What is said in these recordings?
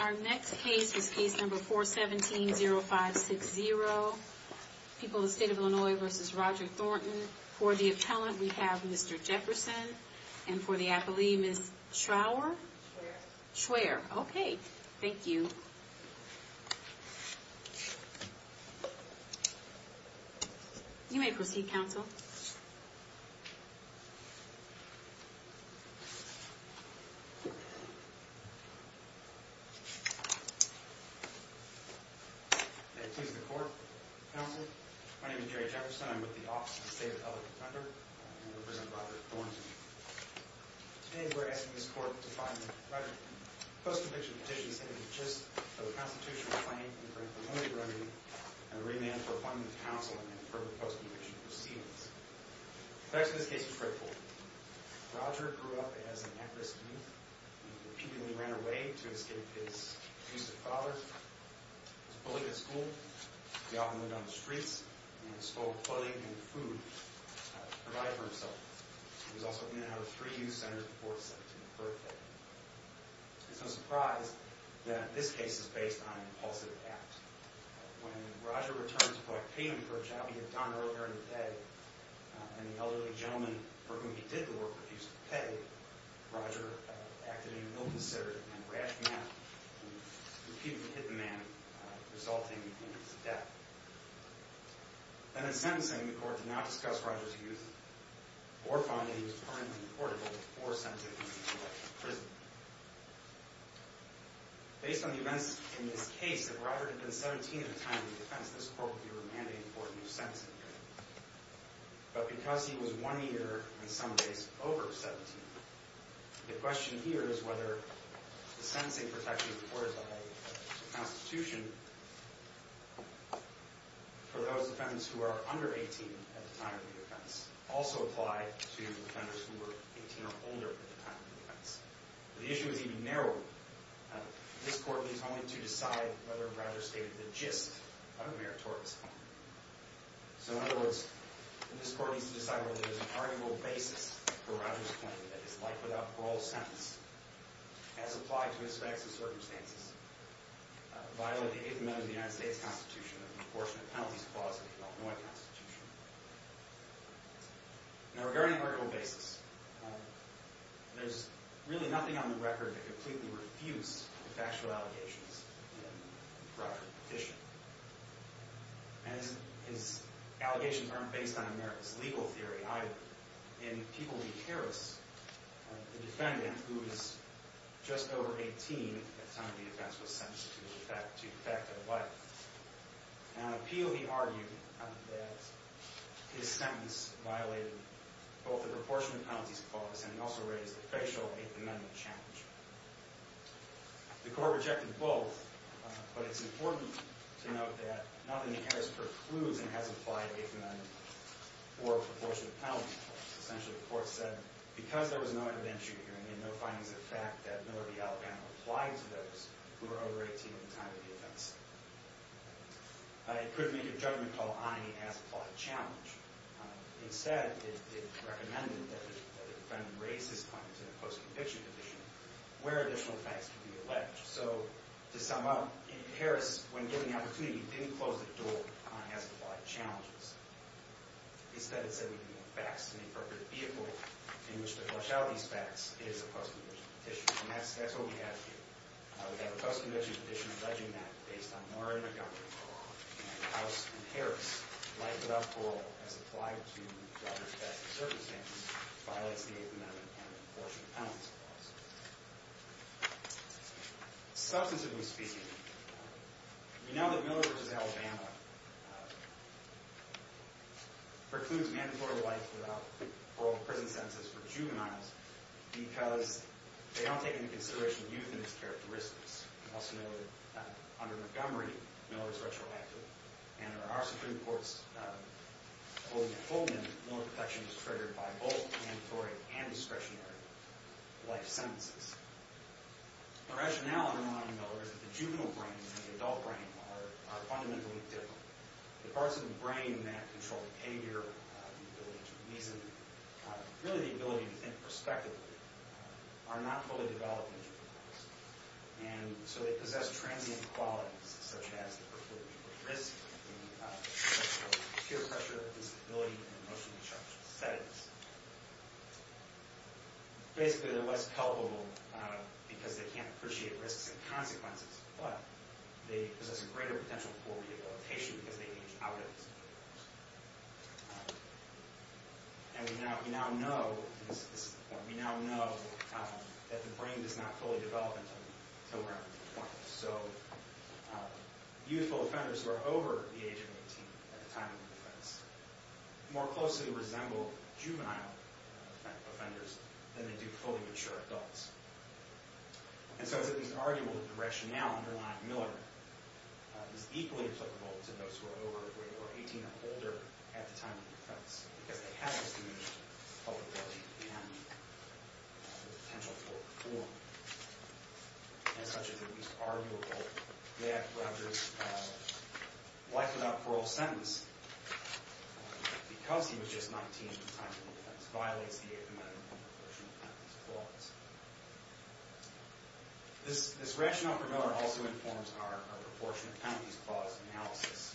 Our next case is case number 417-0560. People of the State of Illinois v. Roger Thornton. For the appellant, we have Mr. Jefferson. And for the appellee, Ms. Schrower? Schwerer. Schwerer. Okay. Thank you. You may proceed, counsel. May it please the court, counsel. My name is Jerry Jefferson. I'm with the Office of the State Appellate Member. And I represent Roger Thornton. Today, we're asking this court to find the writer of the post-conviction petition sitting at the gist of a constitutional claim in the current Illinois remedy and a remand for finding the counsel in the appropriate post-conviction proceedings. The facts of this case are straightforward. Roger grew up as an at-risk youth. He repeatedly ran away to escape his abusive father. He was bullied at school. He often lived on the streets and stole clothing and food to provide for himself. He was also in and out of free youth centers before his 17th birthday. It's no surprise that this case is based on an impulsive act. When Roger returned to collect payment for a job he had done earlier in the day, and the elderly gentleman for whom he did the work refused to pay, Roger acted in an ill-considered and rash manner, and repeatedly hit the man, resulting in his death. Then, in sentencing, the court did not discuss Roger's youth or found that he was primarily deportable or sent to a community correctional prison. Based on the events in this case, if Roger had been 17 at the time of his defense, this court would be remanding for a new sentencing hearing. But because he was one year, in some ways, over 17, the question here is whether the sentencing protection reported by the Constitution for those defendants who are under 18 at the time of the defense also applied to defendants who were 18 or older at the time of the defense. The issue is even narrower. This court needs only to decide whether Roger stated the gist of the meritorious claim. So, in other words, this court needs to decide whether there is an arguable basis for Roger's claim that his life without parole sentence as applied to his facts and circumstances violate the Eighth Amendment of the United States Constitution and the Enforcement of Penalties Clause of the Illinois Constitution. Now, regarding an arguable basis, there's really nothing on the record that completely refutes the factual allegations in Roger's petition. And his allegations aren't based on America's legal theory either. In People v. Harris, the defendant, who was just over 18 at the time of the defense, was sentenced to de facto life. Now, in appeal, he argued that his sentence violated both the Proportion of Penalties Clause and also raised the factual Eighth Amendment challenge. The court rejected both, but it's important to note that not only Harris precludes and has applied Eighth Amendment or Proportion of Penalties Clause. Essentially, the court said, because there was no intervention here and there were no findings of fact that Miller v. Alabama applied to those who were over 18 at the time of the defense, it couldn't make a judgment call on any as-applied challenge. Instead, it recommended that the defendant raise his findings in a post-conviction condition where additional facts could be alleged. So, to sum up, Harris, when given the opportunity, didn't close the door on as-applied challenges. Instead, it said we need facts and the appropriate vehicle in which to flush out these facts is a post-conviction condition. And that's what we have here. We have a post-conviction condition alleging that based on minority government and House and Harris, life without parole as applied to governor's facts and circumstances violates the Eighth Amendment and the Proportion of Penalties Clause. Substantively speaking, we know that Miller v. Alabama precludes mandatory life without parole in prison sentences for juveniles because they don't take into consideration youth and its characteristics. We also know that under Montgomery, Miller is retroactive. And in our Supreme Court's holding at Fulton, Miller protection is triggered by both mandatory and discretionary life sentences. The rationale under Montgomery, Miller, is that the juvenile brain and the adult brain are fundamentally different. The parts of the brain that control behavior, the ability to reason, really the ability to think prospectively, are not fully developed in juveniles. And so they possess transient qualities such as the preclusion of risk, the sexual peer pressure, disability, and emotionally charged settings. Basically, they're less palpable because they can't appreciate risks and consequences, but they possess a greater potential for rehabilitation because they've aged out of it. And we now know that the brain does not fully develop until we're under 20. So youthful offenders who are over the age of 18 at the time of their defense more closely resemble juvenile offenders than they do fully mature adults. And so it's at least arguable that the rationale underlying Miller is equally applicable to those who are over the age of 18 or older at the time of their defense because they have this diminished vulnerability and the potential for reform. And such is at least arguable that Rogers' life without parole sentence because he was just 19 at the time of his defense violates the 8th Amendment and Proportionate Penalties Clause. This rationale for Miller also informs our Proportionate Penalties Clause analysis.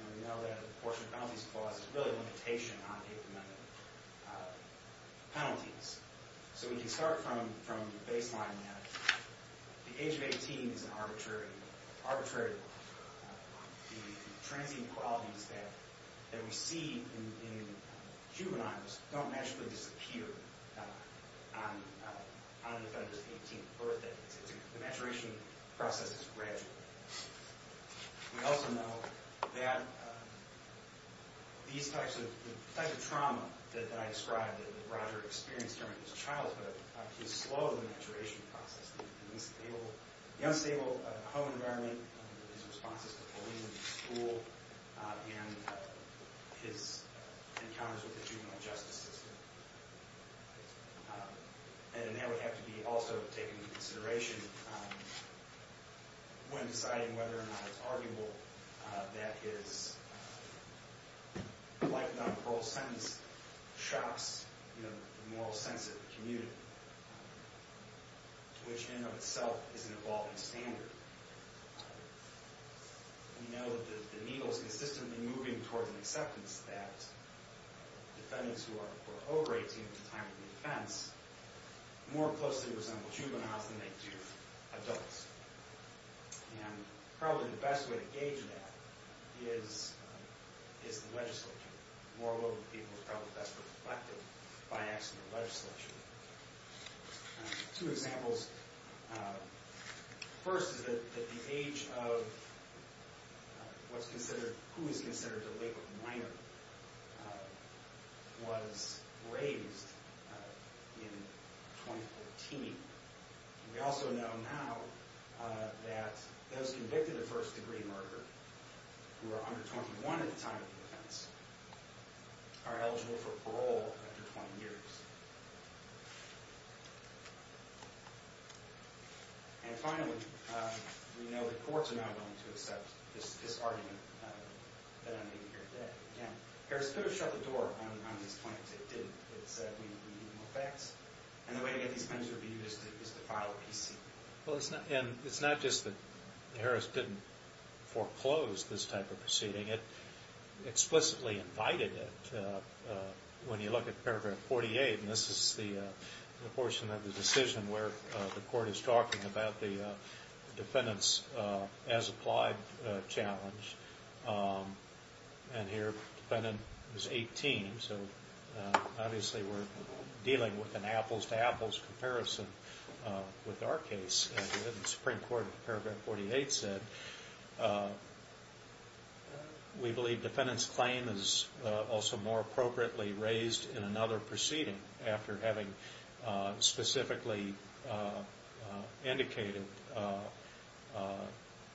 And we know that the Proportionate Penalties Clause is really a limitation on 8th Amendment penalties. So we can start from the baseline that the age of 18 is an arbitrary law. The transient qualities that we see in juveniles don't naturally disappear on an offender's 18th birthday. The maturation process is gradual. We also know that these types of trauma that I described that Roger experienced during his childhood is slow in the maturation process. The unstable home environment, his responses to bullying at school, and his encounters with the juvenile justice system. And that would have to be also taken into consideration when deciding whether or not it's arguable that his life without parole sentence shocks the moral sense of the community, which in and of itself is an evolving standard. We know that the needle is consistently moving towards an acceptance that defendants who are over 18 at the time of their defense more closely resemble juveniles than they do adults. And probably the best way to gauge that is the legislature. And moreover, people are probably best reflected by asking the legislature. Two examples. First is that the age of what's considered, who is considered a late-born minor was raised in 2014. We also know now that those convicted of first-degree murder who are under 21 at the time of their defense are eligible for parole after 20 years. And finally, we know that courts are now going to accept this argument that I made here today. Harris could have shut the door on these plaintiffs. It didn't. It said, we need more facts. And the way to get these things reviewed is to file a PC. And it's not just that Harris didn't foreclose this type of proceeding. It explicitly invited it. When you look at paragraph 48, and this is the portion of the decision where the court is talking about the defendant's as-applied challenge. And here, the defendant is 18, so obviously we're dealing with an apples-to-apples comparison with our case. And the Supreme Court, paragraph 48 said, we believe defendant's claim is also more appropriately raised in another proceeding after having specifically indicated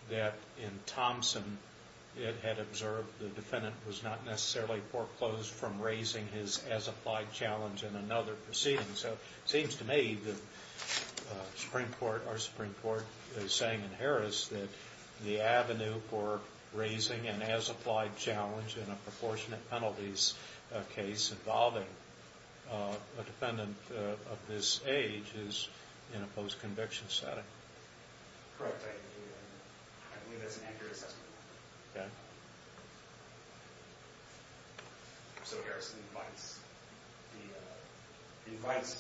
that in Thompson, it had observed the defendant was not necessarily foreclosed from raising his as-applied challenge in another proceeding. So it seems to me that our Supreme Court is saying in Harris that the avenue for raising an as-applied challenge in a proportionate penalties case involving a defendant of this age is in a post-conviction setting. Correct. I believe that's an accurate assessment. Yeah. So Harris invites a youth homeowner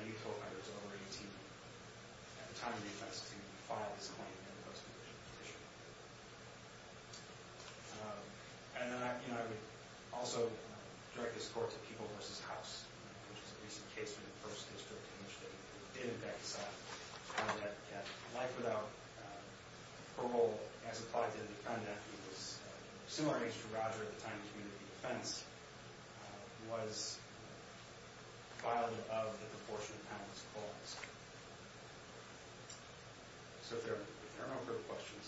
who's over 18 at the time of defense to file this claim in a post-conviction position. And then I would also direct this court to People v. House, which is a recent case from the first district in which they did in fact decide that life without parole as applied to the defendant who was similar age to Roger at the time of community defense was violated of the proportionate penalties clause. So if there are no further questions,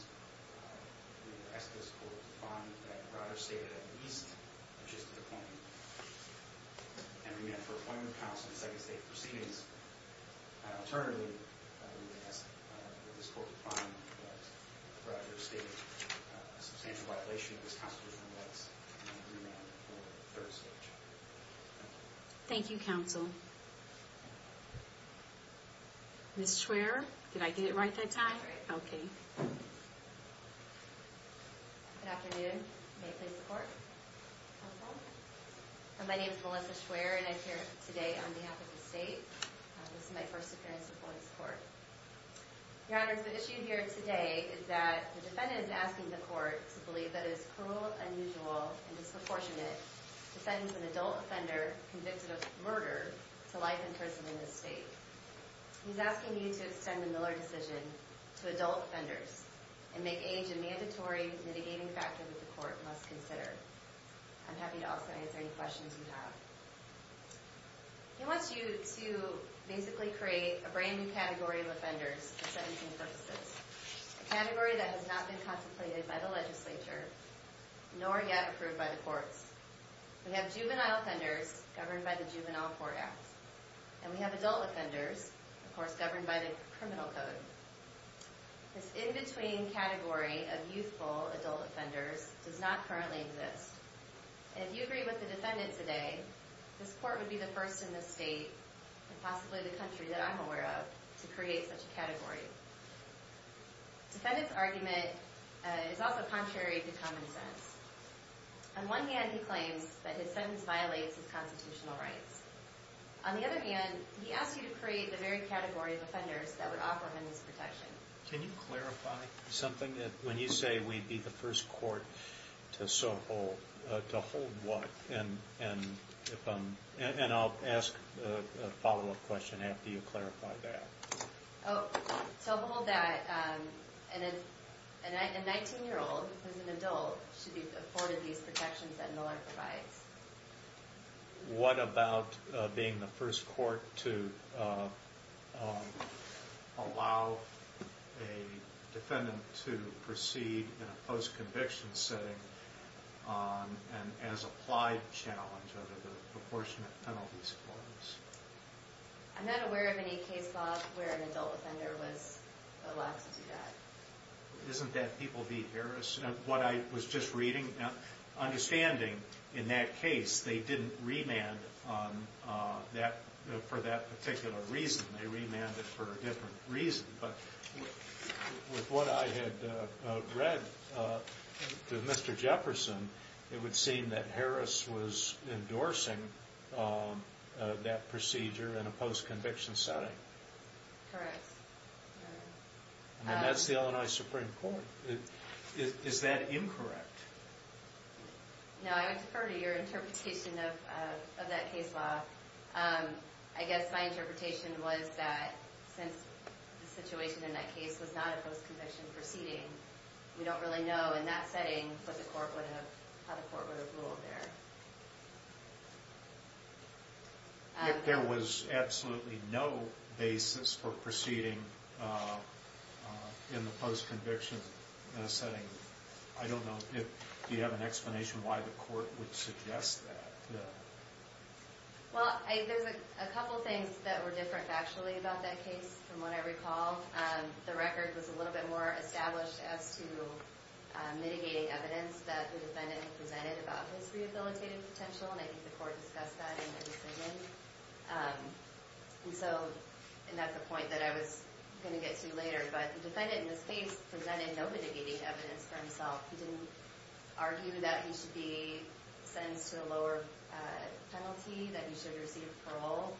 we ask this court to find that Roger stated at least a gist of the claim and remand for appointment of counsel in a second state proceedings. Alternatively, we ask this court to find that Roger stated a substantial violation of his constitutional rights and remand for a third state trial. Thank you, counsel. Ms. Schwerer, did I get it right that time? That's right. Okay. Good afternoon. May I please report? My name is Melissa Schwerer and I'm here today on behalf of the state and this is my first appearance before this court. Your Honors, the issue here today is that the defendant is asking the court to believe that his cruel, unusual, and disproportionate to sentence an adult offender convicted of murder to life in prison in this state. He's asking you to extend the Miller decision to adult offenders and make age a mandatory mitigating factor that the court must consider. I'm happy to also answer any questions you have. He wants you to basically create a brand new category of offenders for sentencing purposes, a category that has not been contemplated by the legislature nor yet approved by the courts. We have juvenile offenders governed by the Juvenile Court Act and we have adult offenders, of course, governed by the Criminal Code. This in-between category of youthful adult offenders does not currently exist. If you agree with the defendant today, this court would be the first in this state and possibly the country that I'm aware of to create such a category. Defendant's argument is also contrary to common sense. On one hand, he claims that his sentence violates his constitutional rights. On the other hand, he asks you to create the very category of offenders that would offer him and his protection. Can you clarify something? When you say we'd be the first court to so hold, to hold what? And I'll ask a follow-up question after you clarify that. To hold that a 19-year-old who's an adult should be afforded these protections that Miller provides. What about being the first court to allow a defendant to proceed in a post-conviction setting on an as-applied challenge under the proportionate penalties clause? I'm not aware of any case, Bob, where an adult offender was allowed to do that. Isn't that people v. Harris? What I was just reading, understanding in that case they didn't remand for that particular reason. They remanded for a different reason. But with what I had read to Mr. Jefferson, it would seem that Harris was endorsing that procedure in a post-conviction setting. Correct. And that's the Illinois Supreme Court. Is that incorrect? No, I would defer to your interpretation of that case, Bob. I guess my interpretation was that since the situation in that case was not a post-conviction proceeding, we don't really know in that setting what the court would have, how the court would have ruled there. If there was absolutely no basis for proceeding in the post-conviction setting, I don't know if you have an explanation why the court would suggest that. Well, there's a couple things that were different factually about that case, from what I recall. The record was a little bit more established as to mitigating evidence that the defendant presented about his rehabilitative potential, and I think the court discussed that in the decision. And that's a point that I was going to get to later, but the defendant in this case presented no mitigating evidence for himself. He didn't argue that he should be sentenced to a lower penalty, that he should receive parole.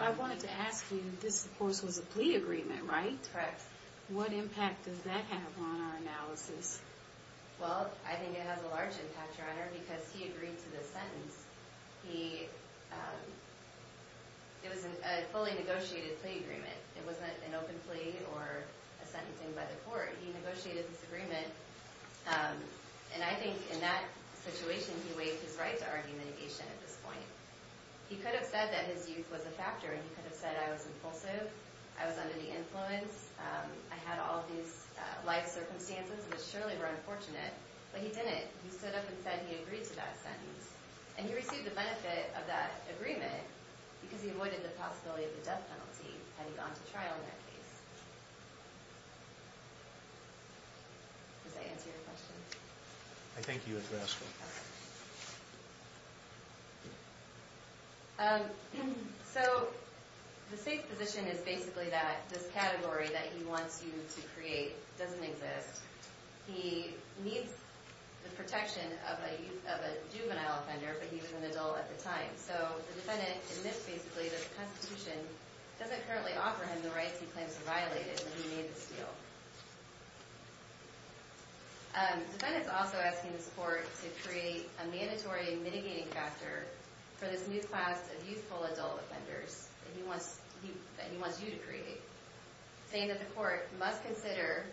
I wanted to ask you, this, of course, was a plea agreement, right? Correct. What impact does that have on our analysis? Well, I think it has a large impact, Your Honor, because he agreed to this sentence. It was a fully negotiated plea agreement. It wasn't an open plea or a sentencing by the court. He negotiated this agreement, and I think in that situation, he waived his right to argue the negation at this point. He could have said that his youth was a factor, and he could have said I was impulsive, I was under the influence, I had all these life circumstances which surely were unfortunate, but he didn't. He stood up and said he agreed to that sentence, and he received the benefit of that agreement because he avoided the possibility of the death penalty had he gone to trial in that case. Does that answer your question? I think you addressed it. Okay. So the state's position is basically that this category that he wants you to create doesn't exist. He needs the protection of a juvenile offender, but he was an adult at the time. So the defendant admits basically that the Constitution doesn't currently offer him the rights he claims to violate, and he made this deal. The defendant is also asking the court to create a mandatory mitigating factor for this new class of youthful adult offenders that he wants you to create, saying that the court must consider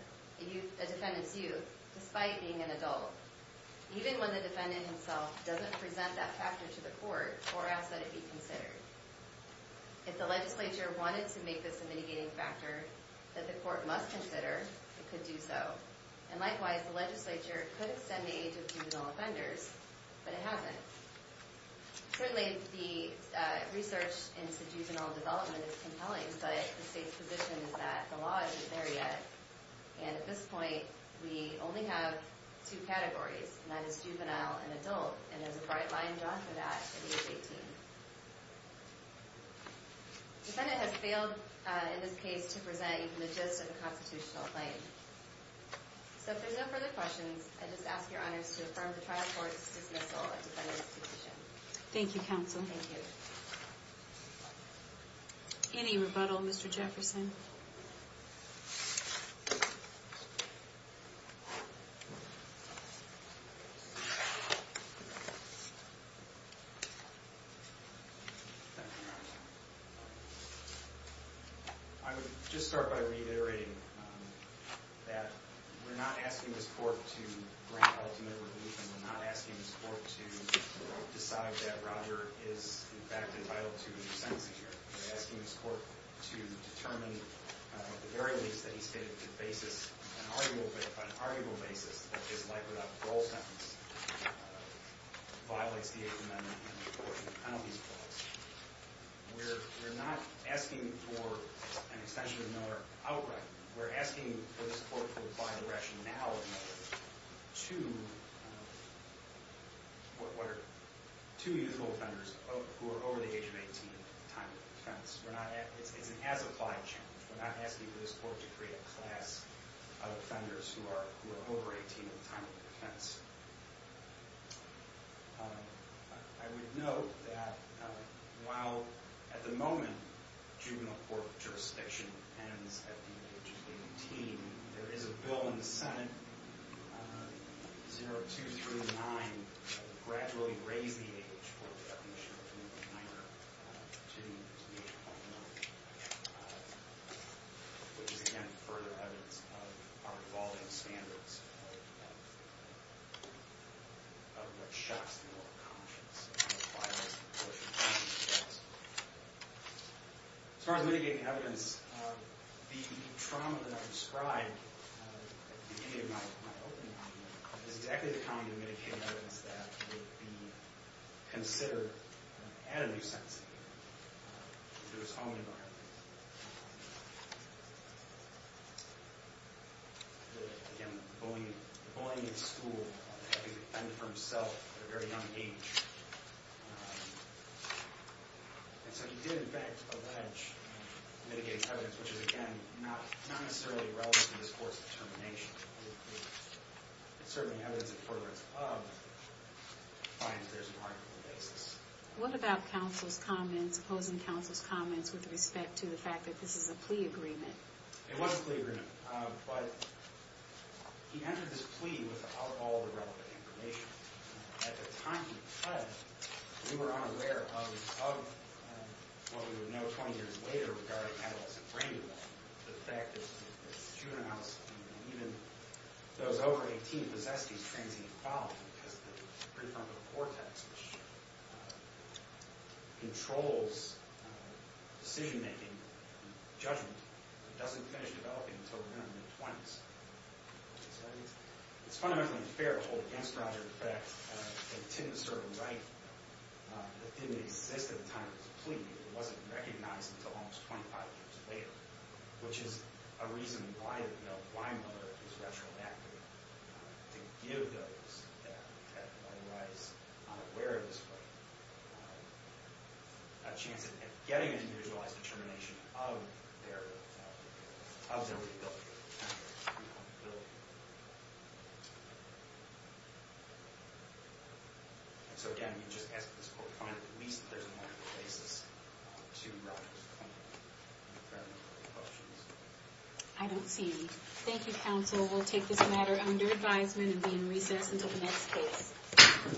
a defendant's youth despite being an adult, even when the defendant himself doesn't present that factor to the court or ask that it be considered. If the legislature wanted to make this a mitigating factor that the court must consider, it could do so. And likewise, the legislature could extend the age of juvenile offenders, but it hasn't. Certainly, the research into juvenile development is compelling, but the state's position is that the law isn't there yet. And at this point, we only have two categories, and that is juvenile and adult, and there's a bright line drawn for that at age 18. The defendant has failed in this case to present even the gist of the constitutional claim. So if there are no further questions, I just ask your honors to affirm the trial court's dismissal of the defendant's position. Thank you, counsel. Thank you. Any rebuttal, Mr. Jefferson? Thank you, Your Honor. I would just start by reiterating that we're not asking this court to grant ultimate rebuttal. We're not asking this court to decide that Roger is, in fact, entitled to be sentenced here. We're asking this court to determine, at the very least, that he's stated the basis on an arguable basis that his life-or-death parole sentence violates the 8th Amendment and the 14 penalties clause. We're not asking for an extension of the motor outright. We're asking for this court to apply the rationale of the motor to two youthful offenders who are over the age of 18. It's an as-applied challenge. We're not asking for this court to create a class of offenders who are over 18 at the time of their defense. I would note that while, at the moment, juvenile court jurisdiction ends at the age of 18, there is a bill in the Senate, 0239, that will gradually raise the age for the recognition of a juvenile offender to the age of 19, which is, again, further evidence of our evolving standards of what shocks the moral conscience. As far as mitigating evidence, the trauma that I've described at the beginning of my opening argument is exactly the kind of mitigating evidence that would be considered an additive sentencing to his home environment. Again, bullying in school, having to defend for himself at a very young age. And so he did, in fact, allege mitigating evidence, which is, again, not necessarily relevant to this court's determination. It's certainly evidence in favor of defiance there's an argument basis. What about counsel's comments, opposing counsel's comments with respect to the fact that this is a plea agreement? It was a plea agreement, but he entered this plea without all the relevant information. At the time he did, we were unaware of what we would know 20 years later regarding adolescent brain removal. The fact that juveniles, even those over 18, possess these transient qualities, because the prefrontal cortex controls decision-making and judgment. It doesn't finish developing until we're in our mid-20s. It's fundamentally fair to hold against Roger the fact that it didn't circumcise, that it didn't exist at the time of his plea. It wasn't recognized until almost 25 years later, which is a reason why Miller is retroactive to give those that otherwise are unaware of this claim a chance at getting an individualized determination of their rebuilding. So again, we just ask that this court find at least there's an argument basis to Roger's claim. Any further questions? I don't see any. Thank you, counsel. We'll take this matter under advisement and be in recess until the next case.